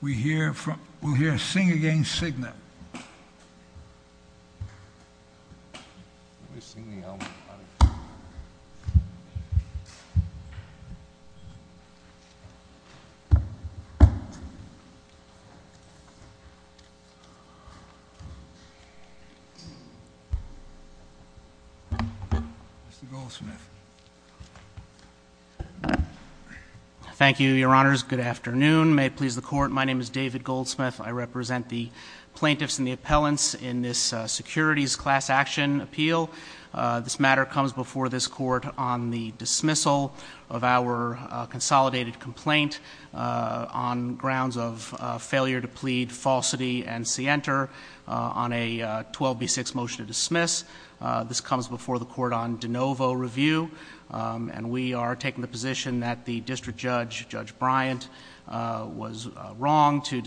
we hear from we'll hear a sing again Cigna thank you your honors good afternoon may it please the court my name is David Goldsmith I represent the plaintiffs and the appellants in this securities class action appeal this matter comes before this court on the dismissal of our consolidated complaint on grounds of failure to plead falsity and see enter on a 12 b6 motion to dismiss this comes before the court on de novo review and we are taking the position that the district judge judge Bryant was wrong to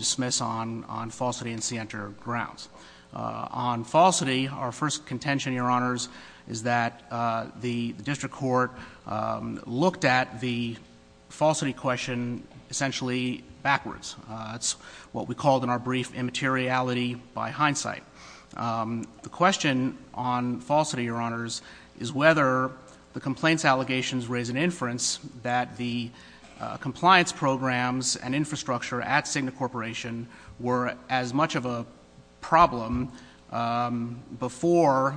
our first contention your honors is that the district court looked at the falsity question essentially backwards that's what we called in our brief immateriality by hindsight the question on falsity your honors is whether the complaints allegations raise an inference that the compliance programs and infrastructure at Cigna Corporation were as much of a problem before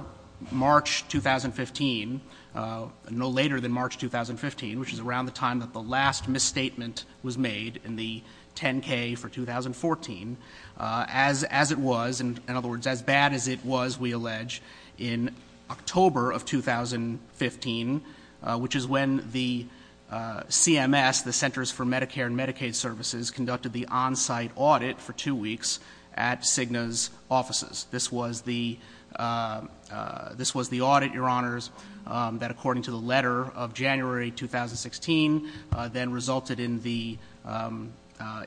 March 2015 no later than March 2015 which is around the time that the last misstatement was made in the 10k for 2014 as as it was and in other words as bad as it was we allege in October of 2015 which is when the CMS the Centers for Medicare and Medicaid Services conducted the on-site audit for two weeks at Cigna's offices this was the this was the audit your honors that according to the letter of January 2016 then resulted in the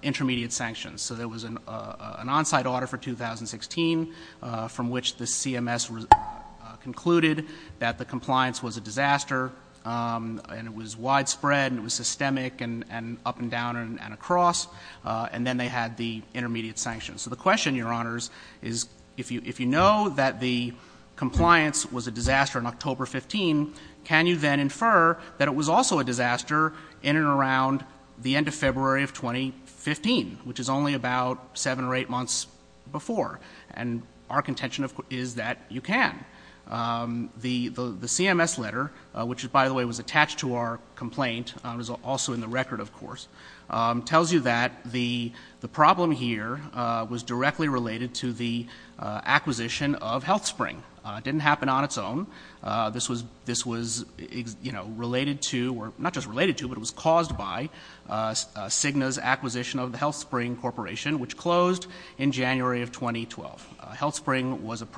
intermediate sanctions so there was an on-site order for 2016 from which the CMS was concluded that the compliance was a disaster and it was widespread and it was systemic and up and down and across and then they had the intermediate sanctions so the question your honors is if you if you know that the compliance was a disaster in October 15 can you then infer that it was also a disaster in and around the end of February of 2015 which is only about seven or eight months before and our contention is that you can the the CMS letter which is by the way was attached to our complaint was also in the record of course tells you that the the problem here was directly related to the acquisition of HealthSpring didn't happen on its own this was this was you know related to or not just related to but it was caused by Cigna's acquisition of the HealthSpring corporation which closed in January of 2012 HealthSpring was a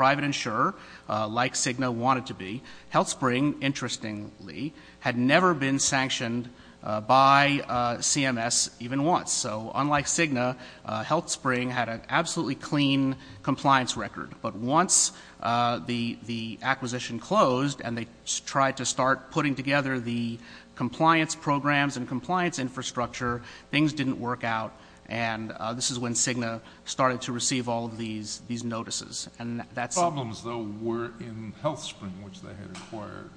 had never been sanctioned by CMS even once so unlike Cigna HealthSpring had an absolutely clean compliance record but once the the acquisition closed and they tried to start putting together the compliance programs and compliance infrastructure things didn't work out and this is when Cigna started to receive all of these these notices and that's problems though were in HealthSpring in which they had acquired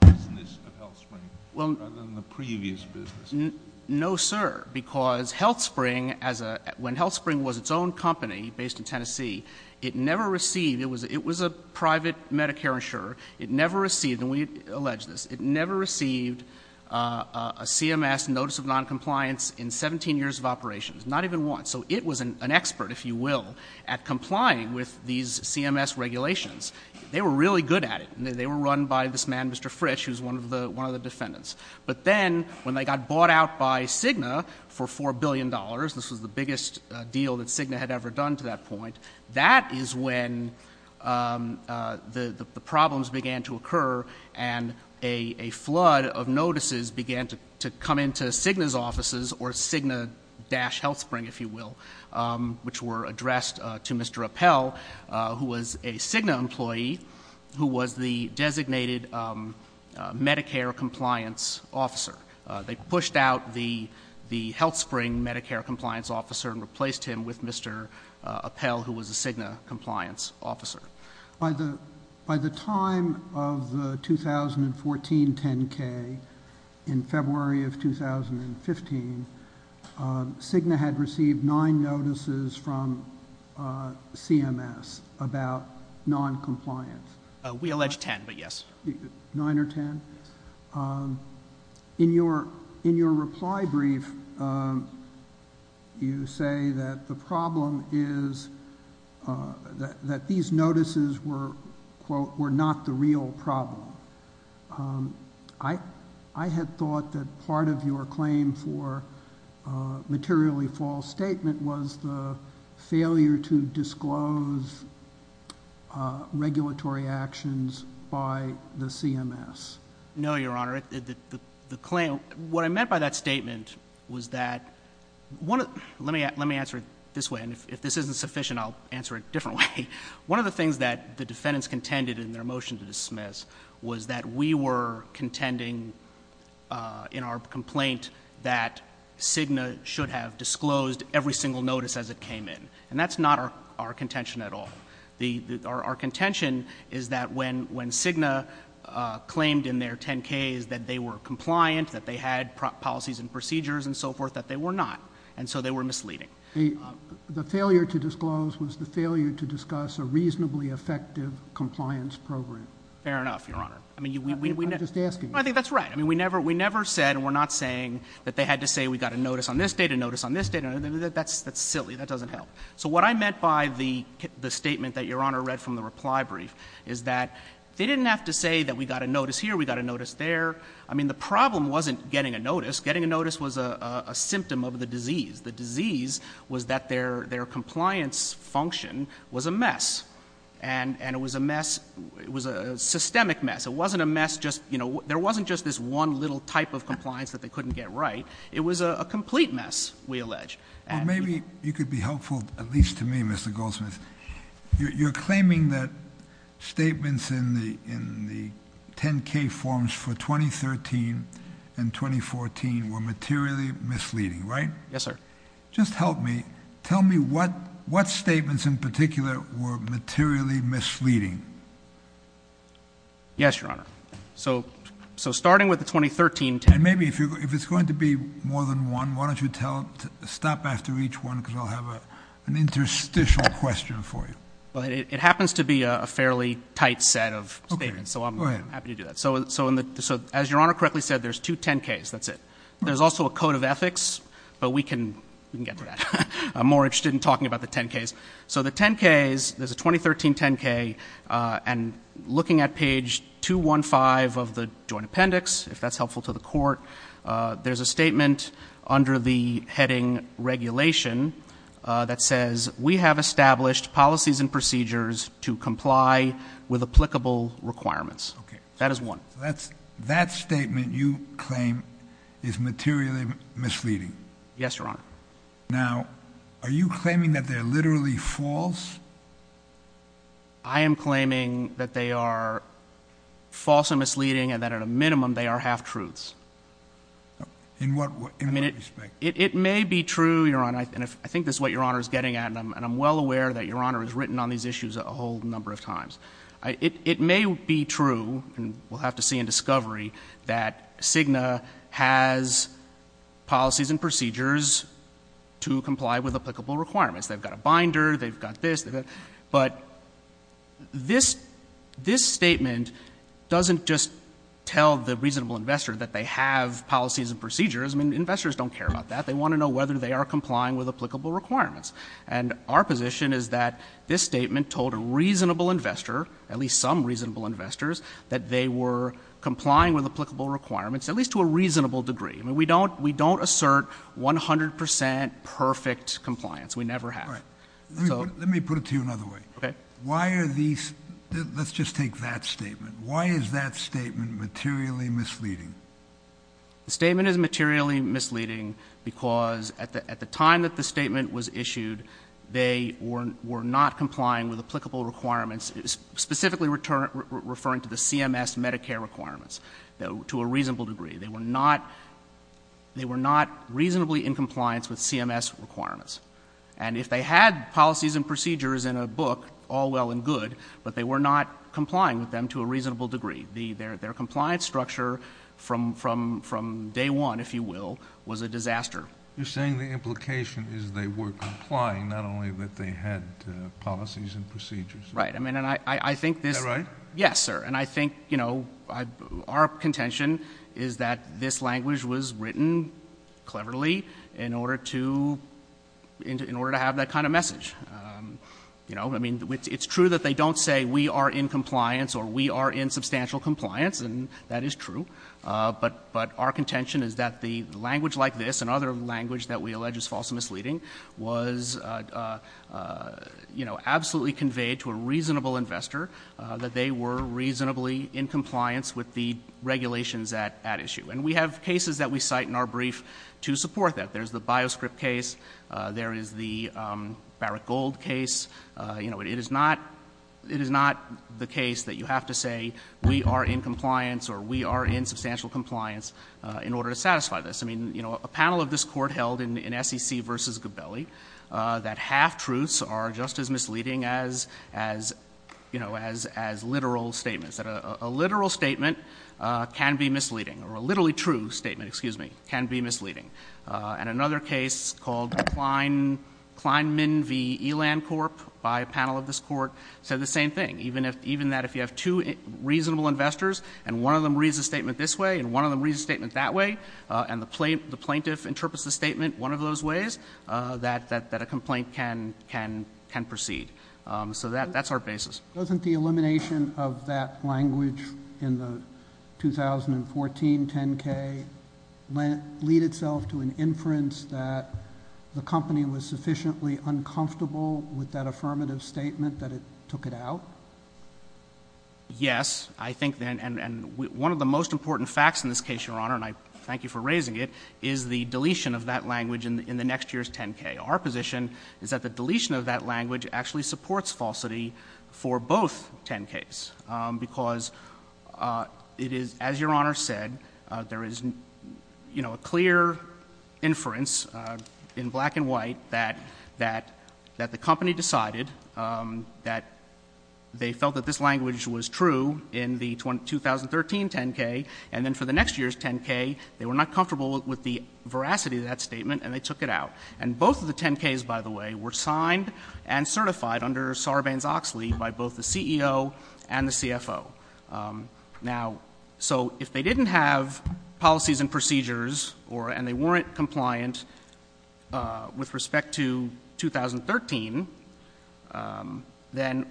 the business of HealthSpring rather than the previous business no sir because HealthSpring as a when HealthSpring was its own company based in Tennessee it never received it was it was a private Medicare insurer it never received and we allege this it never received a CMS notice of non-compliance in 17 years of operations not even once so it was an expert if you will at really good at it they were run by this man Mr. Frisch who's one of the one of the defendants but then when they got bought out by Cigna for four billion dollars this was the biggest deal that Cigna had ever done to that point that is when the the problems began to occur and a flood of notices began to come into Cigna's offices or Cigna dash HealthSpring if you will which were Cigna employee who was the designated Medicare compliance officer they pushed out the the HealthSpring Medicare compliance officer and replaced him with Mr. Appel who was a Cigna compliance officer. By the time of the 2014 10k in compliance we allege 10 but yes 9 or 10 in your in your reply brief you say that the problem is that these notices were quote were not the real problem I I had thought that part of your claim for materially false statement was the failure to disclose regulatory actions by the CMS. No your honor the claim what I meant by that statement was that one of let me let me answer it this way and if this isn't sufficient I'll answer it different way one of the things that the defendants contended in their motion to dismiss was that we were contending in our complaint that Cigna should have disclosed every single notice as it came in and that's not our contention at all. Our contention is that when when Cigna claimed in their 10k's that they were compliant that they had policies and procedures and so forth that they were not and so they were misleading. The failure to disclose was the failure to discuss a reasonably effective compliance program. Fair enough your honor. I'm just asking. I think that's right I mean we never we never said we're not saying that they had to say we got a notice on this date a notice on this date that's that's silly that doesn't help so what I meant by the the statement that your honor read from the reply brief is that they didn't have to say that we got a notice here we got a notice there I mean the problem wasn't getting a notice getting a notice was a symptom of the disease the disease was that their their compliance function was a mess and and it was a mess it was a systemic mess it wasn't a mess just you know there wasn't just this one little type of compliance that they couldn't get right it was a complete mess we allege and maybe you could be helpful at least to me mr. Goldsmith you're claiming that statements in the in the 10k forms for 2013 and 2014 were materially misleading right yes sir just help me tell me what what statements in particular were materially misleading yes your honor so so starting with the 2013 and maybe if you if it's going to be more than one why don't you tell stop after each one because I'll have a an interstitial question for you well it happens to be a fairly tight set of statements so I'm happy to do that so so in the so as your honor correctly said there's two 10ks that's it there's also a code of ethics but we can we can get to that I'm more interested in talking about the 10ks so the 10ks there's a 2013 10k and looking at page 215 of the joint appendix if that's helpful to the court there's a statement under the heading regulation that says we have established policies and procedures to comply with applicable requirements okay that is one that's that statement you claim is materially misleading yes your honor now are you claiming that they're literally false I am claiming that they are false and misleading and that at a minimum they are half truths in what I mean it it may be true your honor and if I think this is what your honor is getting at and I'm and I'm well aware that your honor is written on these issues a whole number of times it may be true and we'll have to see in discovery that Cigna has policies and procedures to comply with applicable requirements they've got a binder they've got this but this this statement doesn't just tell the reasonable investor that they have policies and procedures I mean investors don't care about that they want to know whether they are complying with applicable requirements and our position is that this statement told a reasonable investor at least some reasonable investors that they were complying with applicable requirements at least to a reasonable degree I mean we don't we don't assert 100% perfect compliance we never have all right so let me put it to you another way okay why are these let's just take that statement why is that statement materially misleading the statement is materially misleading because at the time that the statement was issued they were were not complying with applicable requirements specifically return referring to the CMS Medicare requirements though to a reasonable degree they were not they were not reasonably in compliance with CMS requirements and if they had policies and procedures in a book all well and good but they were not complying with them to a reasonable degree the their their compliance structure from from from day one if you will was a disaster you're saying the implication is they were complying not only that they had policies and procedures right I mean and I I think this right yes sir and I think you know I our contention is that this language was written cleverly in order to in order to have that kind of message you know I mean it's true that they don't say we are in compliance or we are in substantial compliance and that is true but but our contention is that the language like this and other language that we allege is false and misleading was you know absolutely conveyed to a reasonable investor that they were reasonably in compliance with the regulations at at issue and we have cases that we cite in our brief to support that there's the bioscript case there is the Barrick Gold case you know it is not it is not the case that you have to say we are in compliance or we are in substantial compliance in order to satisfy this I mean you know a panel of this court held in SEC versus Gabelli that half truths are just as misleading as as you know as as literal statements that a literal statement can be misleading or a literally true statement excuse me can be misleading and another case called Klein Klein Min V Eland Corp by a panel of this court said the same thing even if even that if you have two reasonable investors and one of them reads a statement this way and one of them reads a statement that way and the plaintiff the plaintiff interprets the statement one of those ways that that that a complaint can can can proceed so that that's our basis doesn't the elimination of that language in the 2014 10k lead itself to an inference that the company was sufficiently uncomfortable with that affirmative statement that it took it out yes I think then and and one of the most important facts in this case your honor and I thank you for raising it is the deletion of that language in the next year's 10k our position is that the deletion of that language actually supports falsity for both 10k's because it is as your honor said there is you know a clear inference in black and white that that that the company decided that they felt that this language was true in the 2013 10k and then for the next year's 10k they were not comfortable with the veracity of that statement and they took it out and both of the 10k's by the way were signed and certified under Sarbanes-Oxley by both the CEO and the CFO now so if they didn't have policies and procedures or and they weren't compliant with respect to 2013 then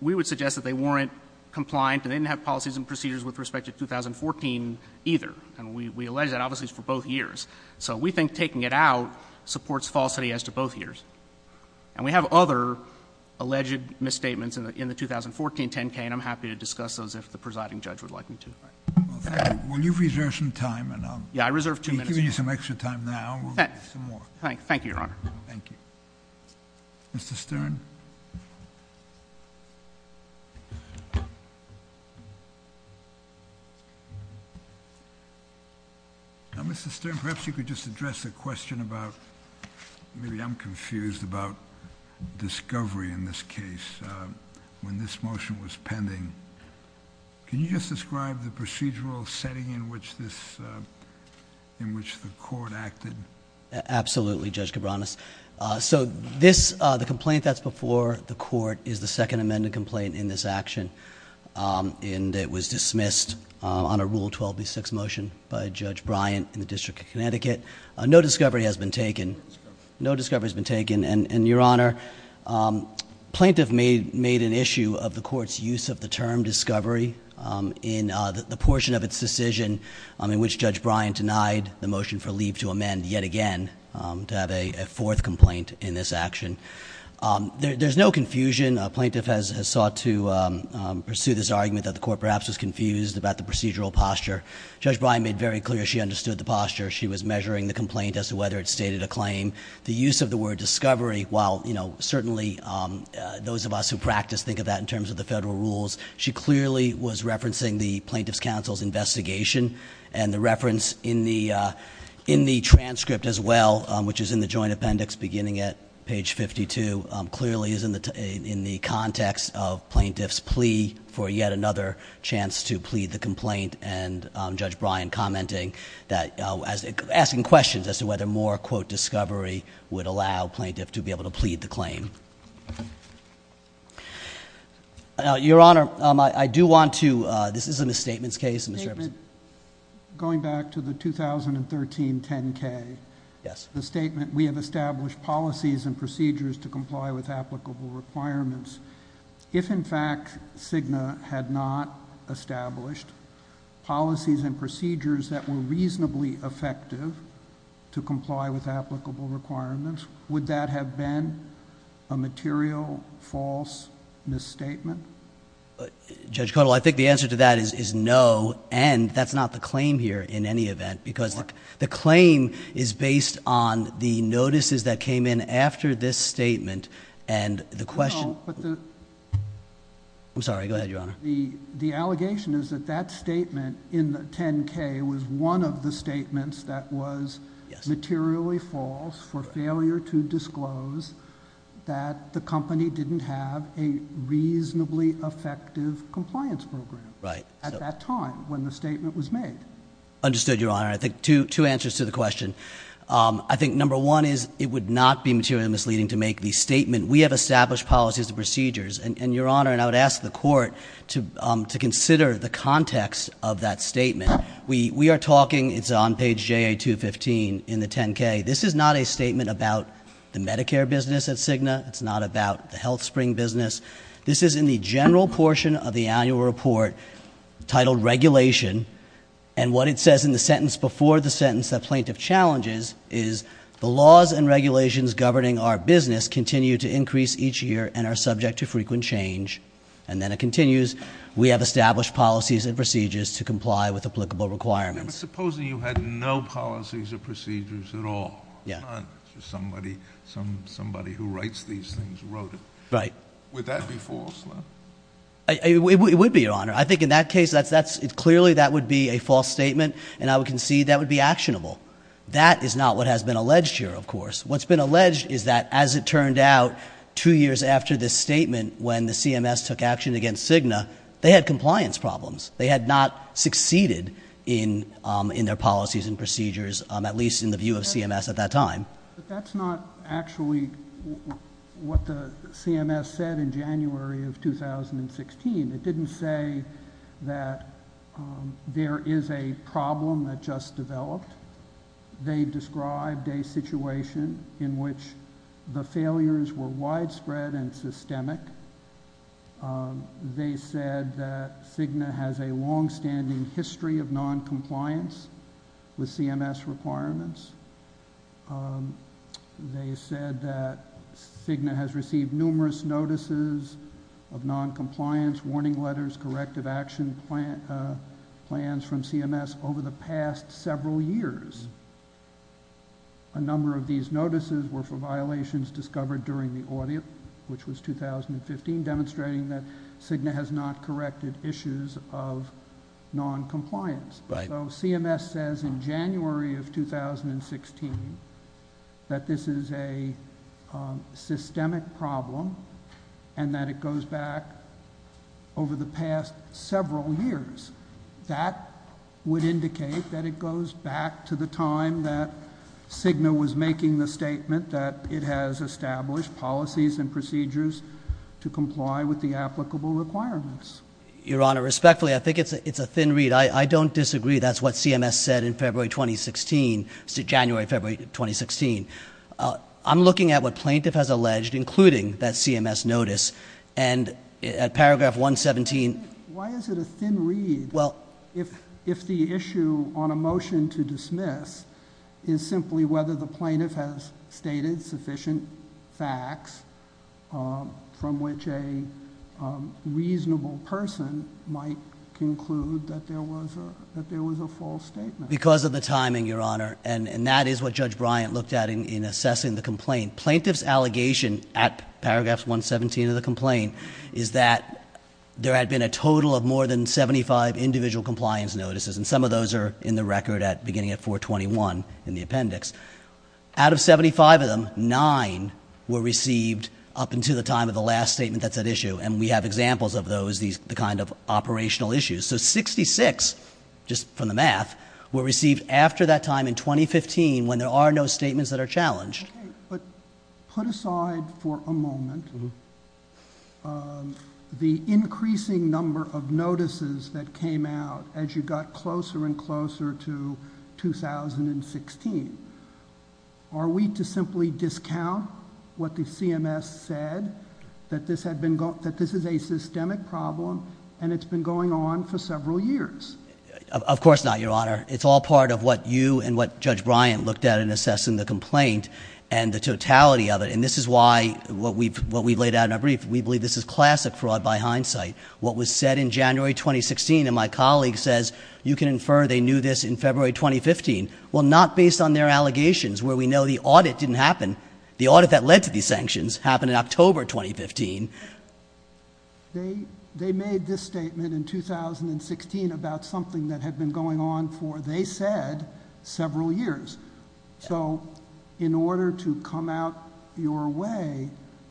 we would suggest that they weren't compliant and didn't have policies and procedures with respect to 2014 either and we we alleged that obviously for both years so we think taking it out supports falsity as to both years and we have other alleged misstatements in the in the 2014 10k and I'm happy to discuss those if the presiding judge would like me to well thank you will you reserve some time and I'll yeah I reserve two minutes giving you some extra time now we'll get some more thank thank you your honor thank you Mr. Stern Mr. Stern perhaps you could just address a question about maybe I'm confused about discovery in this case when this motion was pending can you just describe the procedural setting in which this in which the court acted absolutely Judge Cabranes so this the complaint that's before the court is the second amended complaint in this action and it was dismissed on a rule 12b6 motion by Judge Bryant in the District of Connecticut no discovery has been taken no discovery has been taken and your honor plaintiff made made an issue of the court's use of the term discovery in the portion of its decision in which Judge Bryant denied the motion for leave to amend yet again to have a fourth complaint in this action there's no confusion a plaintiff has sought to pursue this argument that the court perhaps was confused about the procedural posture Judge Bryant made very clear she understood the posture she was measuring the complaint as to whether it stated a claim the use of the word discovery while you know certainly those of us who practice think of that in terms of the federal rules she clearly was referencing the plaintiff's counsel's investigation and the reference in the in the transcript as well which is in the joint appendix beginning at page 52 clearly is in the in the context of plaintiff's plea for yet another chance to plead the complaint and Judge Bryant commenting that as asking questions as to whether more quote discovery would allow plaintiff to be able to plead the claim your honor I do want to this is a misstatements case going back to the 2013 10k yes the statement we have established policies and procedures to comply with applicable requirements if in fact Cigna had not established policies and procedures that were reasonably effective to comply with applicable requirements would that have been a material false misstatement Judge Cuddle I think the answer to that is no and that's not the claim here in any event because the claim is based on the notices that came in after this statement and the question I'm sorry go ahead your honor the the allegation is that that statement in the 10k was one of the statements that was materially false for failure to disclose that the company didn't have a reasonably effective compliance program right at that time when the statement was made understood your honor I think two answers to the question I think number one is it would not be material misleading to make the statement we have established policies and procedures to comply with applicable requirements if in fact Cigna had not established policies and procedures that were reasonably effective to comply with applicable requirements would that have been a material false misstatement Judge Cuddle I think the answer to that is no and that's not the claim here in any event because the claim is based on the notices that came in after this statement and the question I'm sorry go ahead your honor the the allegation is that that statement in the 10k was one of the statements that was materially false for failure to disclose that the company didn't have a reasonably effective compliance program right at that time when the statement was made understood your honor I think two answers to the question I'm sorry go ahead your honor I would ask the court to consider the context of that statement we are talking it's on page jay to 15 in the 10k this is not a statement about the medicare business at Cigna it's not about the health spring business this is in the general portion of the annual report title regulation and what it says in the sentence before the sentence the plaintiff challenges is the laws and regulations governing our business continue to increase each year and are subject to frequent change and then it continues we have established policies and procedures to comply with applicable requirements supposing you had no policies or procedures at all yeah somebody some somebody who writes these things wrote it right with that before I would be your honor I think in that case that's that's it clearly that would be a false statement and I would concede that would be actionable that is not what has been alleged here of course what's been alleged is that as it turned out two years after this statement when the CMS took action against Cigna they had compliance problems they had not succeeded in in their policies and procedures at least in the view of CMS at that time that's not actually what the CMS said in January of 2016 it didn't say that there is a problem that just developed they've described a situation in which the failures were widespread and systemic they said that Cigna has a long-standing history of non-compliance with CMS requirements they said that Cigna has received numerous notices of non-compliance warning letters corrective action plan plans from CMS over the past several years a number of these notices were for violations discovered during the audit which was 2015 demonstrating that Cigna has not corrected issues of non-compliance though CMS says in January of 2016 that this is a systemic problem and that it goes back over the past several years that would indicate that it goes back to the time that Cigna was making the statement that it has established policies and procedures to comply with the applicable requirements your honor respectfully I think it's a it's a thin read I I don't disagree that's what CMS said in February 2016 to January February 2016 I'm looking at what plaintiff has alleged including that CMS notice and at on a motion to dismiss is simply whether the plaintiff has stated sufficient facts from which a reasonable person might conclude that there was a that there was a false statement because of the timing your honor and and that is what judge Bryant looked at in assessing the complaint plaintiffs allegation at paragraphs 117 of the complaint is that there had been a total of more than 75 individual compliance notices and some of those are in the record at beginning at 421 in the appendix out of 75 of them nine were received up into the time of the last statement that's at issue and we have examples of those these the kind of operational issues so 66 just from the math were received after that time in 2015 when there are no statements that are challenged but put aside for a out as you got closer and closer to 2016 are we to simply discount what the CMS said that this had been got that this is a systemic problem and it's been going on for several years of course not your honor it's all part of what you and what judge Bryant looked at in assessing the complaint and the totality of it and this is why what we've what we laid out in a brief we believe this is classic fraud by hindsight what was said in January 2016 and my colleague says you can infer they knew this in February 2015 well not based on their allegations where we know the audit didn't happen the audit that led to these sanctions happened in October 2015 they they made this statement in 2016 about something that had been going on for they said several years so in order to come out your way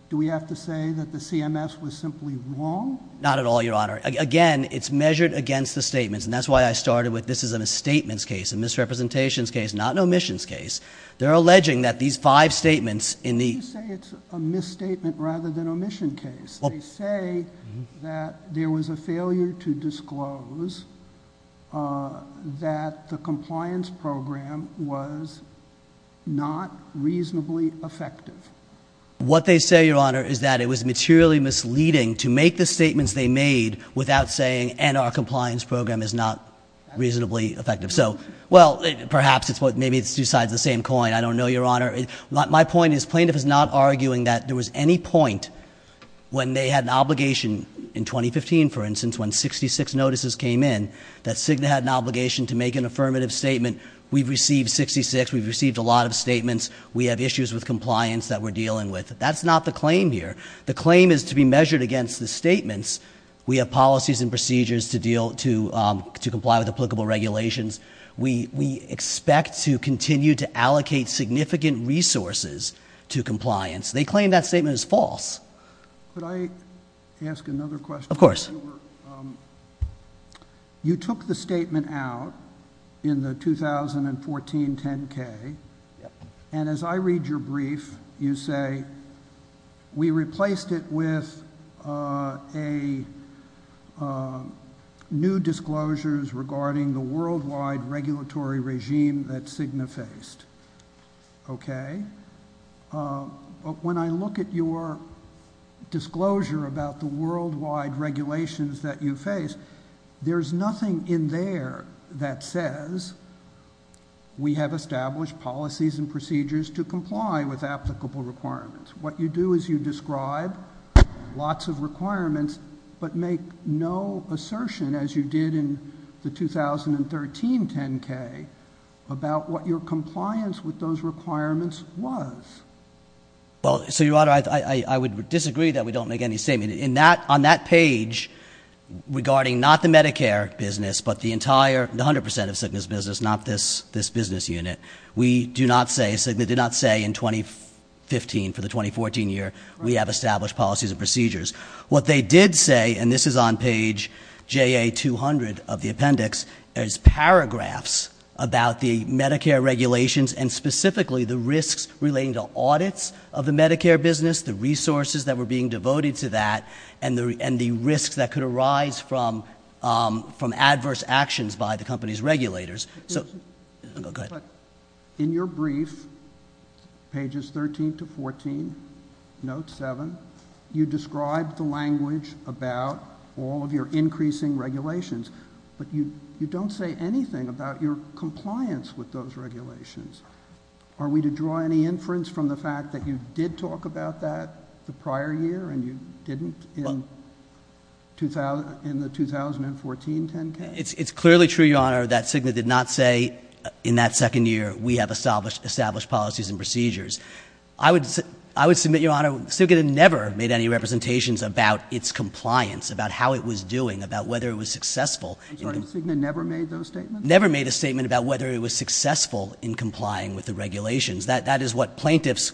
do we have to say that the CMS was simply wrong not at all your honor again it's measured against the statements and that's why I started with this is a misstatements case a misrepresentations case not an omissions case they're alleging that these five statements in the misstatement rather than omission case say that there was a failure to disclose that the compliance program was not reasonably effective what they say your honor is that it was materially misleading to make the statements they made without saying and our compliance program is not reasonably effective so well perhaps it's what maybe it's besides the same coin I don't know your honor my point is plaintiff is not arguing that there was any point when they had an obligation in 2015 for instance when 66 notices came in that signet had an obligation to make an affirmative statement we've received 66 we've received a lot of statements we have issues with compliance that we're dealing with that's not the claim here the claim is to be measured against the statements we have policies and procedures to deal to to comply with applicable regulations we we expect to continue to allocate significant resources to compliance they claim that in the 2014 10k and as I read your brief you say we replaced it with a new disclosures regarding the worldwide regulatory regime that Cigna faced okay but when I look at your disclosure about the worldwide regulations that you face there's nothing in there that says we have established policies and procedures to comply with applicable requirements what you do is you describe lots of requirements but make no assertion as you did in the 2013 10k about what your compliance with those requirements was well so your honor I would disagree that we don't make any statement in that on that page regarding not the Medicare business but the entire 100% of sickness business not this this business unit we do not say so they did not say in 2015 for the 2014 year we have established policies and procedures what they did say and this is on page ja200 of the appendix there's paragraphs about the Medicare regulations and specifically the risks relating to audits of the Medicare business the resources that were being devoted to that and the and the risks that could arise from from adverse actions by the company's regulators so in your brief pages 13 to 14 note 7 you described the language about all of your increasing regulations but you you don't say anything about your compliance with those regulations are we to draw any inference from the fact that you did talk about that the prior year and you didn't in 2000 in the 2014 10k it's clearly true your honor that signet did not say in that second year we have established established policies and procedures I would I would submit your honor still get it never made any representations about its compliance about how it was doing about whether it was successful never made those statements never made a statement about whether it was successful in complying with the regulations that that is what plaintiffs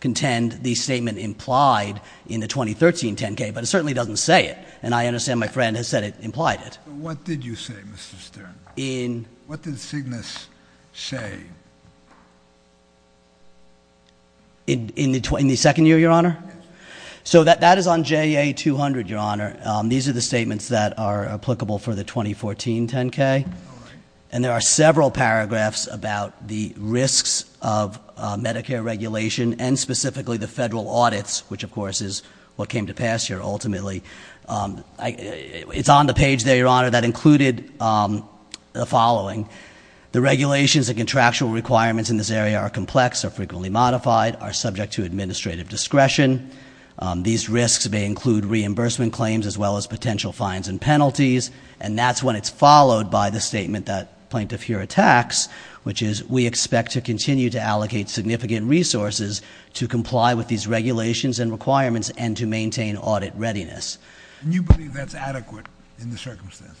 contend the statement implied in the 2013 10k but it certainly doesn't say it and I understand my friend has said it implied it what did you say mr. Stern in what did Cygnus say in the 20 the second year your honor so that that is on ja200 your honor these are the statements that are applicable for the 2014 10k and there are several paragraphs about the risks of Medicare regulation and specifically the federal audits which of course is what came to pass here ultimately it's on the page there your honor that included the following the regulations and contractual requirements in this area are complex are frequently modified are subject to administrative discretion these risks may include reimbursement claims as well as potential fines and penalties and that's when it's followed by the statement that plaintiff here attacks which is we expect to continue to allocate significant resources to comply with these regulations and requirements and to maintain audit readiness you believe that's adequate in the circumstances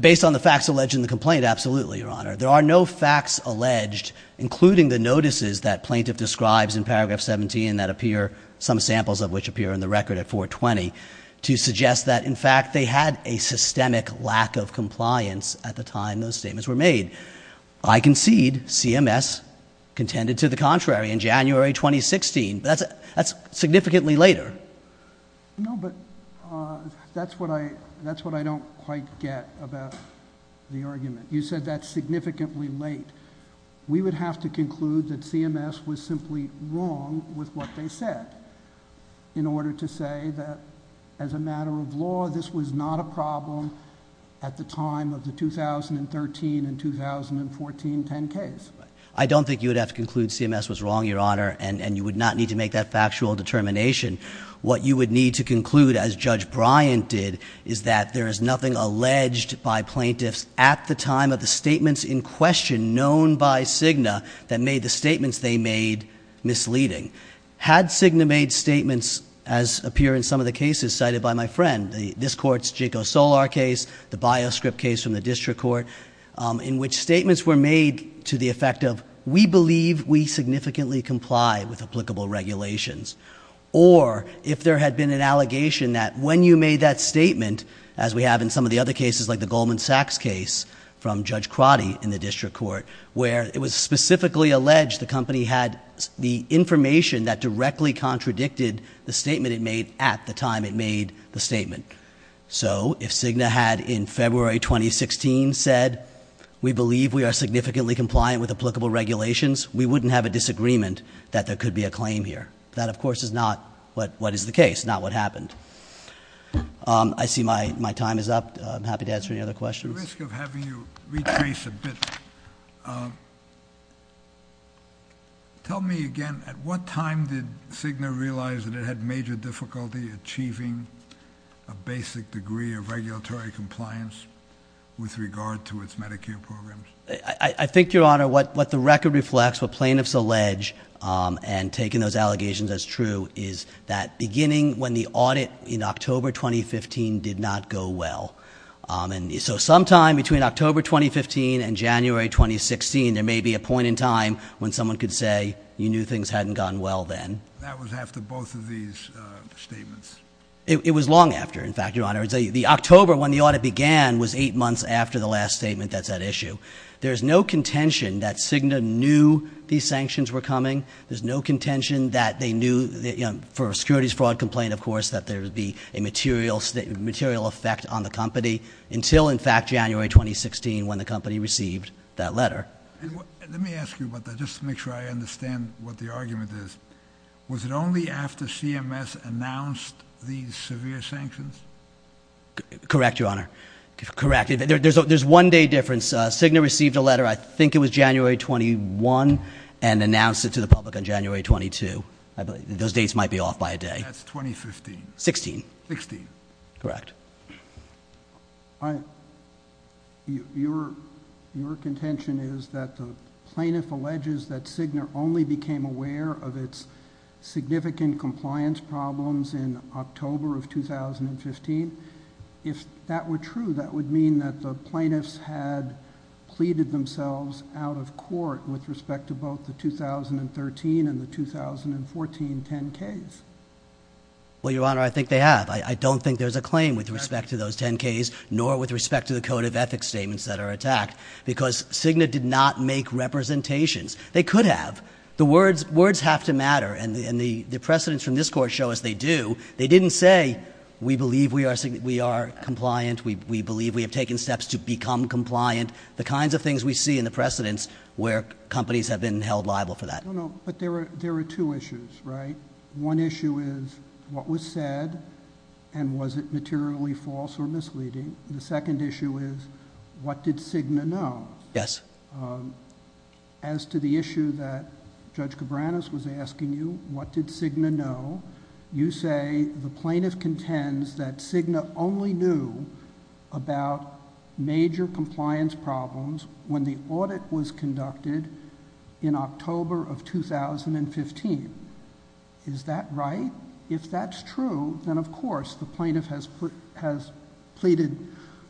based on the facts alleged in the complaint absolutely your honor there are no facts alleged including the notices that plaintiff describes in paragraph 17 that appear some samples of which appear in the record at 420 to suggest that in fact they had a systemic lack of compliance at the time those statements were made I concede CMS contended to the contrary in January 2016 that's that's significantly later no but that's what I that's what I don't quite get about the argument you said that's significantly late we would have to conclude that CMS was simply wrong with what they said in order to as a matter of law this was not a problem at the time of the 2013 and 2014 10 case I don't think you would have to conclude CMS was wrong your honor and and you would not need to make that factual determination what you would need to conclude as judge Bryant did is that there is nothing alleged by plaintiffs at the time of the statements in question known by Cigna that made the appear in some of the cases cited by my friend the this court's Jiko Solar case the bioscript case from the district court in which statements were made to the effect of we believe we significantly comply with applicable regulations or if there had been an allegation that when you made that statement as we have in some of the other cases like the Goldman Sachs case from Judge Crotty in the district court where it was specifically alleged the company had the information that directly contradicted the statement it at the time it made the statement so if Cigna had in February 2016 said we believe we are significantly compliant with applicable regulations we wouldn't have a disagreement that there could be a claim here that of course is not what what is the case not what happened I see my my time is up I'm happy to answer any other questions tell me again at what time did Cigna realize that it had major difficulty achieving a basic degree of regulatory compliance with regard to its Medicare programs I think your honor what what the record reflects what plaintiffs allege and taking those allegations as true is that beginning when the audit in October 2015 did not go well and so sometime between October 2015 and January 2016 there may be a point in time when someone could say you things hadn't gone well then it was long after in fact your honor is a the October when the audit began was eight months after the last statement that's that issue there's no contention that Cigna knew these sanctions were coming there's no contention that they knew for securities fraud complaint of course that there would be a material state material effect on the company until in fact January 2016 when the company received that letter the argument is was it only after CMS announced these severe sanctions correct your honor correct there's a there's one day difference Cigna received a letter I think it was January 21 and announced it to the public on January 22 I believe those dates might be off by a day that's 2015 16 16 correct I your your contention is that the plaintiff alleges that Cigna only became aware of its significant compliance problems in October of 2015 if that were true that would mean that the plaintiffs had pleaded themselves out of court with respect to both the 2013 and the 2014 10ks well your honor I think they have I don't think there's a claim with respect to those 10ks nor with respect to the code of ethics statements that are attacked because Cigna did not make representations they could have the words words have to matter and the and the the precedents from this court show as they do they didn't say we believe we are saying we are compliant we believe we have taken steps to become compliant the kinds of things we see in the precedents where companies have been held liable for that no but there were there are two issues right one issue is what was said and was it materially false or misleading the second issue is what did Cigna know yes as to the issue that Judge Cabranes was asking you what did Cigna know you say the plaintiff contends that Cigna only knew about major compliance problems when the audit was conducted in October of 2015 is that right if that's true then of course the plaintiff has put has pleaded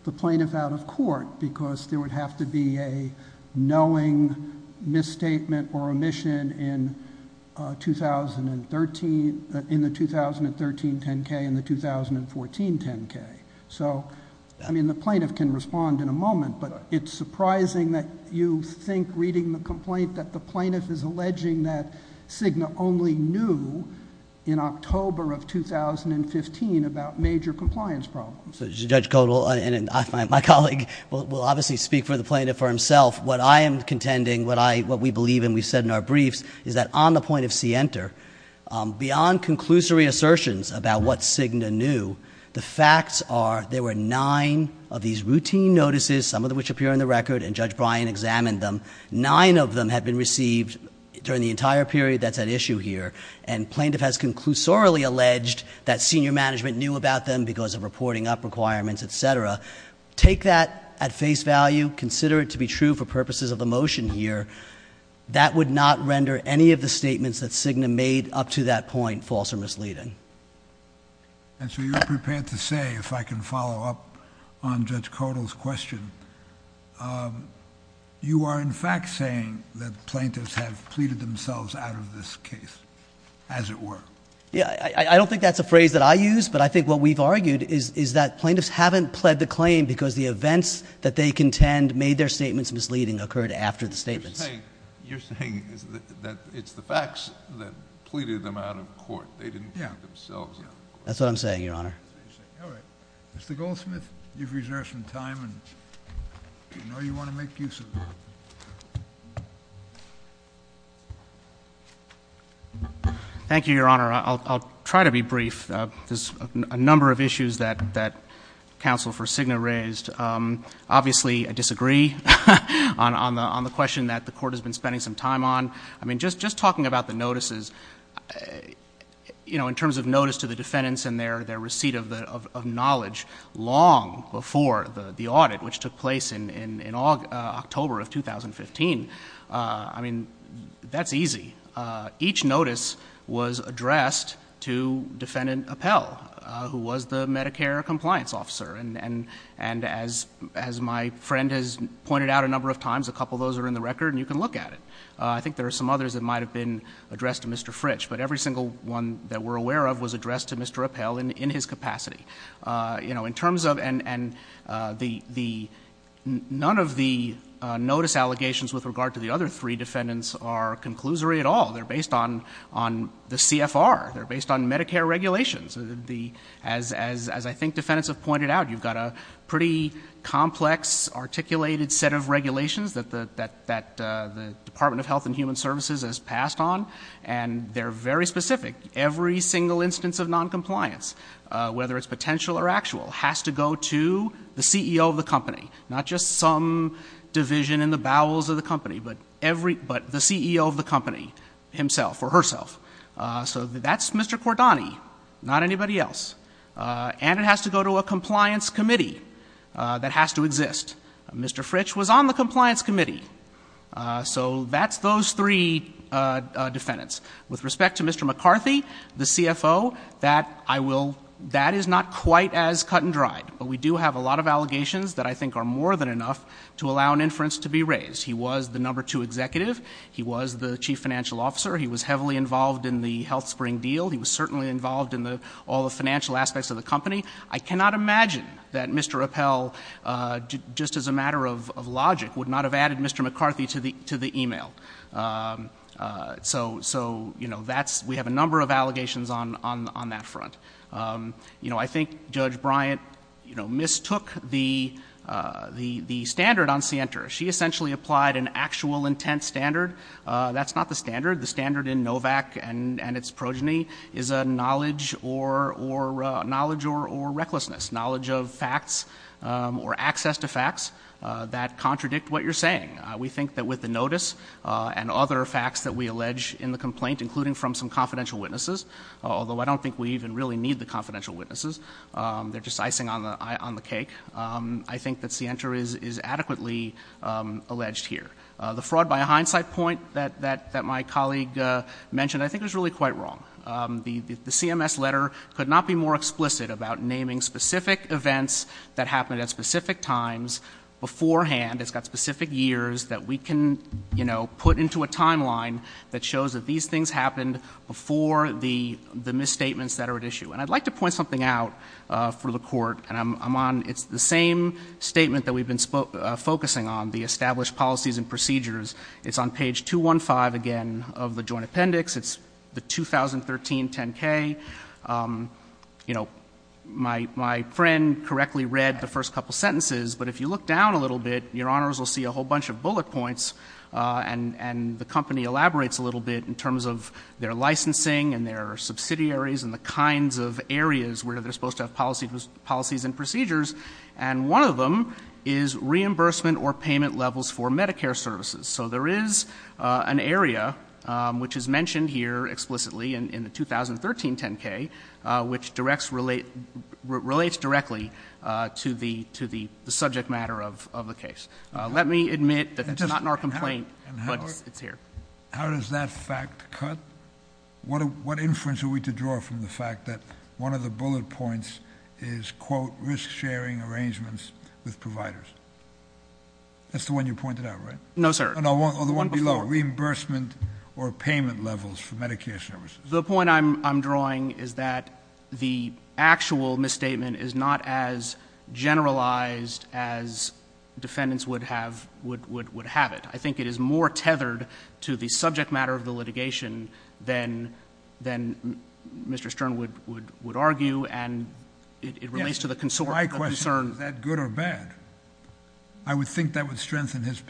the plaintiff out of court because there would have to be a knowing misstatement or omission in 2013 in the 2013 10k in the 2014 10k so I mean the plaintiff can respond in a moment but it's surprising that you think reading the complaint that the plaintiff is in 2015 about major compliance problems so Judge Codal and I find my colleague will obviously speak for the plaintiff for himself what I am contending what I what we believe and we said in our briefs is that on the point of see enter beyond conclusory assertions about what Cigna knew the facts are there were nine of these routine notices some of the which appear in the record and Judge Bryan examined them nine of them have been received during the entire period that's an issue here and plaintiff has conclusorily alleged that senior management knew about them because of reporting up requirements etc take that at face value consider it to be true for purposes of the motion here that would not render any of the statements that Cigna made up to that point false or misleading and so you're prepared to say if I can follow up on Judge Codal's question you are in fact saying that plaintiffs have pleaded themselves out of this case as it were yeah I don't think that's a phrase that I use but I think what we've argued is is that plaintiffs haven't pled the claim because the events that they contend made their statements misleading occurred after the statements you're saying is that it's the facts that pleaded them out of court they didn't yeah that's what I'm saying your honor mr. goldsmith you've reserved some time and thank you your honor I'll try to be brief there's a number of issues that that counsel for Cigna raised obviously I disagree on on the on the question that the court has been spending some time on I mean just just talking about the notices you know in terms of notice to the defendants and their their receipt of the of knowledge long before the the audit which took place in in in all October of 2015 I mean that's easy each notice was addressed to defendant Appell who was the Medicare compliance officer and and and as as my friend has pointed out a number of times a couple those are in the record and you can look at it I think there are some others that might have been addressed to mr. Fritch but every single one that we're aware of was in in his capacity you know in terms of and and the the none of the notice allegations with regard to the other three defendants are conclusory at all they're based on on the CFR they're based on Medicare regulations the as as as I think defendants have pointed out you've got a pretty complex articulated set of regulations that the that that the Department of Health and Human Services has passed on and they're very specific every single instance of non-compliance whether it's potential or actual has to go to the CEO of the company not just some division in the bowels of the company but every but the CEO of the company himself or herself so that's mr. Kordani not anybody else and it has to go to a compliance committee that has to exist mr. Fritch was on the compliance committee so that's those three defendants with respect to mr. McCarthy the CFO that I will that is not quite as cut-and-dried but we do have a lot of allegations that I think are more than enough to allow an inference to be raised he was the number two executive he was the chief financial officer he was heavily involved in the health spring deal he was certainly involved in the all the financial aspects of the company I cannot imagine that mr. Appel just as a matter of logic would not have added mr. McCarthy to the email so so you know that's we have a number of allegations on on on that front you know I think judge Bryant you know mistook the the the standard on scienter she essentially applied an actual intent standard that's not the standard the standard in Novak and and its progeny is a knowledge or or knowledge or or recklessness knowledge of facts or access to facts that contradict what you're saying we think that with the notice and other facts that we allege in the complaint including from some confidential witnesses although I don't think we even really need the confidential witnesses they're just icing on the eye on the cake I think that scienter is is adequately alleged here the fraud by a hindsight point that that that my colleague mentioned I think it was really quite wrong the the CMS letter could not be more explicit about naming specific events that happened at beforehand it's got specific years that we can you know put into a timeline that shows that these things happened before the the misstatements that are at issue and I'd like to point something out for the court and I'm on it's the same statement that we've been spoke focusing on the established policies and procedures it's on page 215 again of the joint appendix it's the 2013 10k you know my my friend correctly read the first couple sentences but if you looked down a little bit your honors will see a whole bunch of bullet points and and the company elaborates a little bit in terms of their licensing and their subsidiaries and the kinds of areas where they're supposed to have policies with policies and procedures and one of them is reimbursement or payment levels for Medicare services so there is an area which is mentioned here explicitly and in the 2013 10k which directs relate relates directly to the to the the subject matter of the case let me admit that it's not in our complaint but it's here how does that fact cut what what inference are we to draw from the fact that one of the bullet points is quote risk-sharing arrangements with providers that's the one you pointed out right no sir and I want all the one below reimbursement or payment levels for Medicare services the point I'm drawing is that the actual misstatement is not as generalized as defendants would have would would would have it I think it is more tethered to the subject matter of the litigation then then mr. Stern would would would argue and it relates to the concern that good or bad I would think that would strengthen his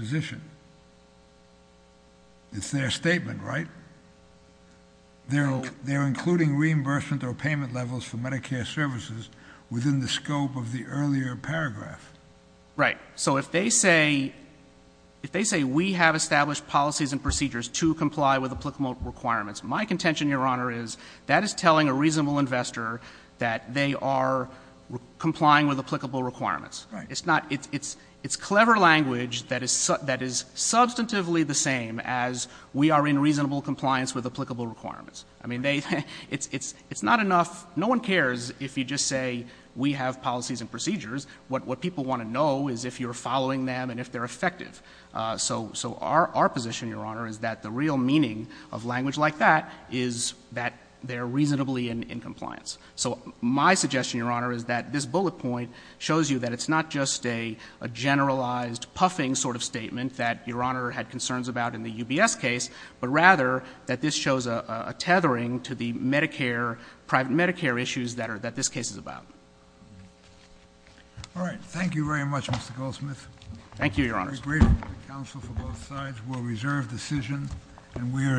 reimbursement or payment levels for Medicare services within the scope of the earlier paragraph right so if they say if they say we have established policies and procedures to comply with applicable requirements my contention your honor is that is telling a reasonable investor that they are complying with applicable requirements it's not it's it's it's clever language that is that is substantively the same as we are in reasonable compliance with it's it's not enough no one cares if you just say we have policies and procedures what what people want to know is if you're following them and if they're effective so so our our position your honor is that the real meaning of language like that is that they're reasonably in compliance so my suggestion your honor is that this bullet point shows you that it's not just a generalized puffing sort of statement that your honor had concerns about in the UBS case but rather that this shows a tethering to the Medicare private Medicare issues that are that this case is about all right thank you very much mr. Goldsmith thank you your honors will reserve decision and we are adjourned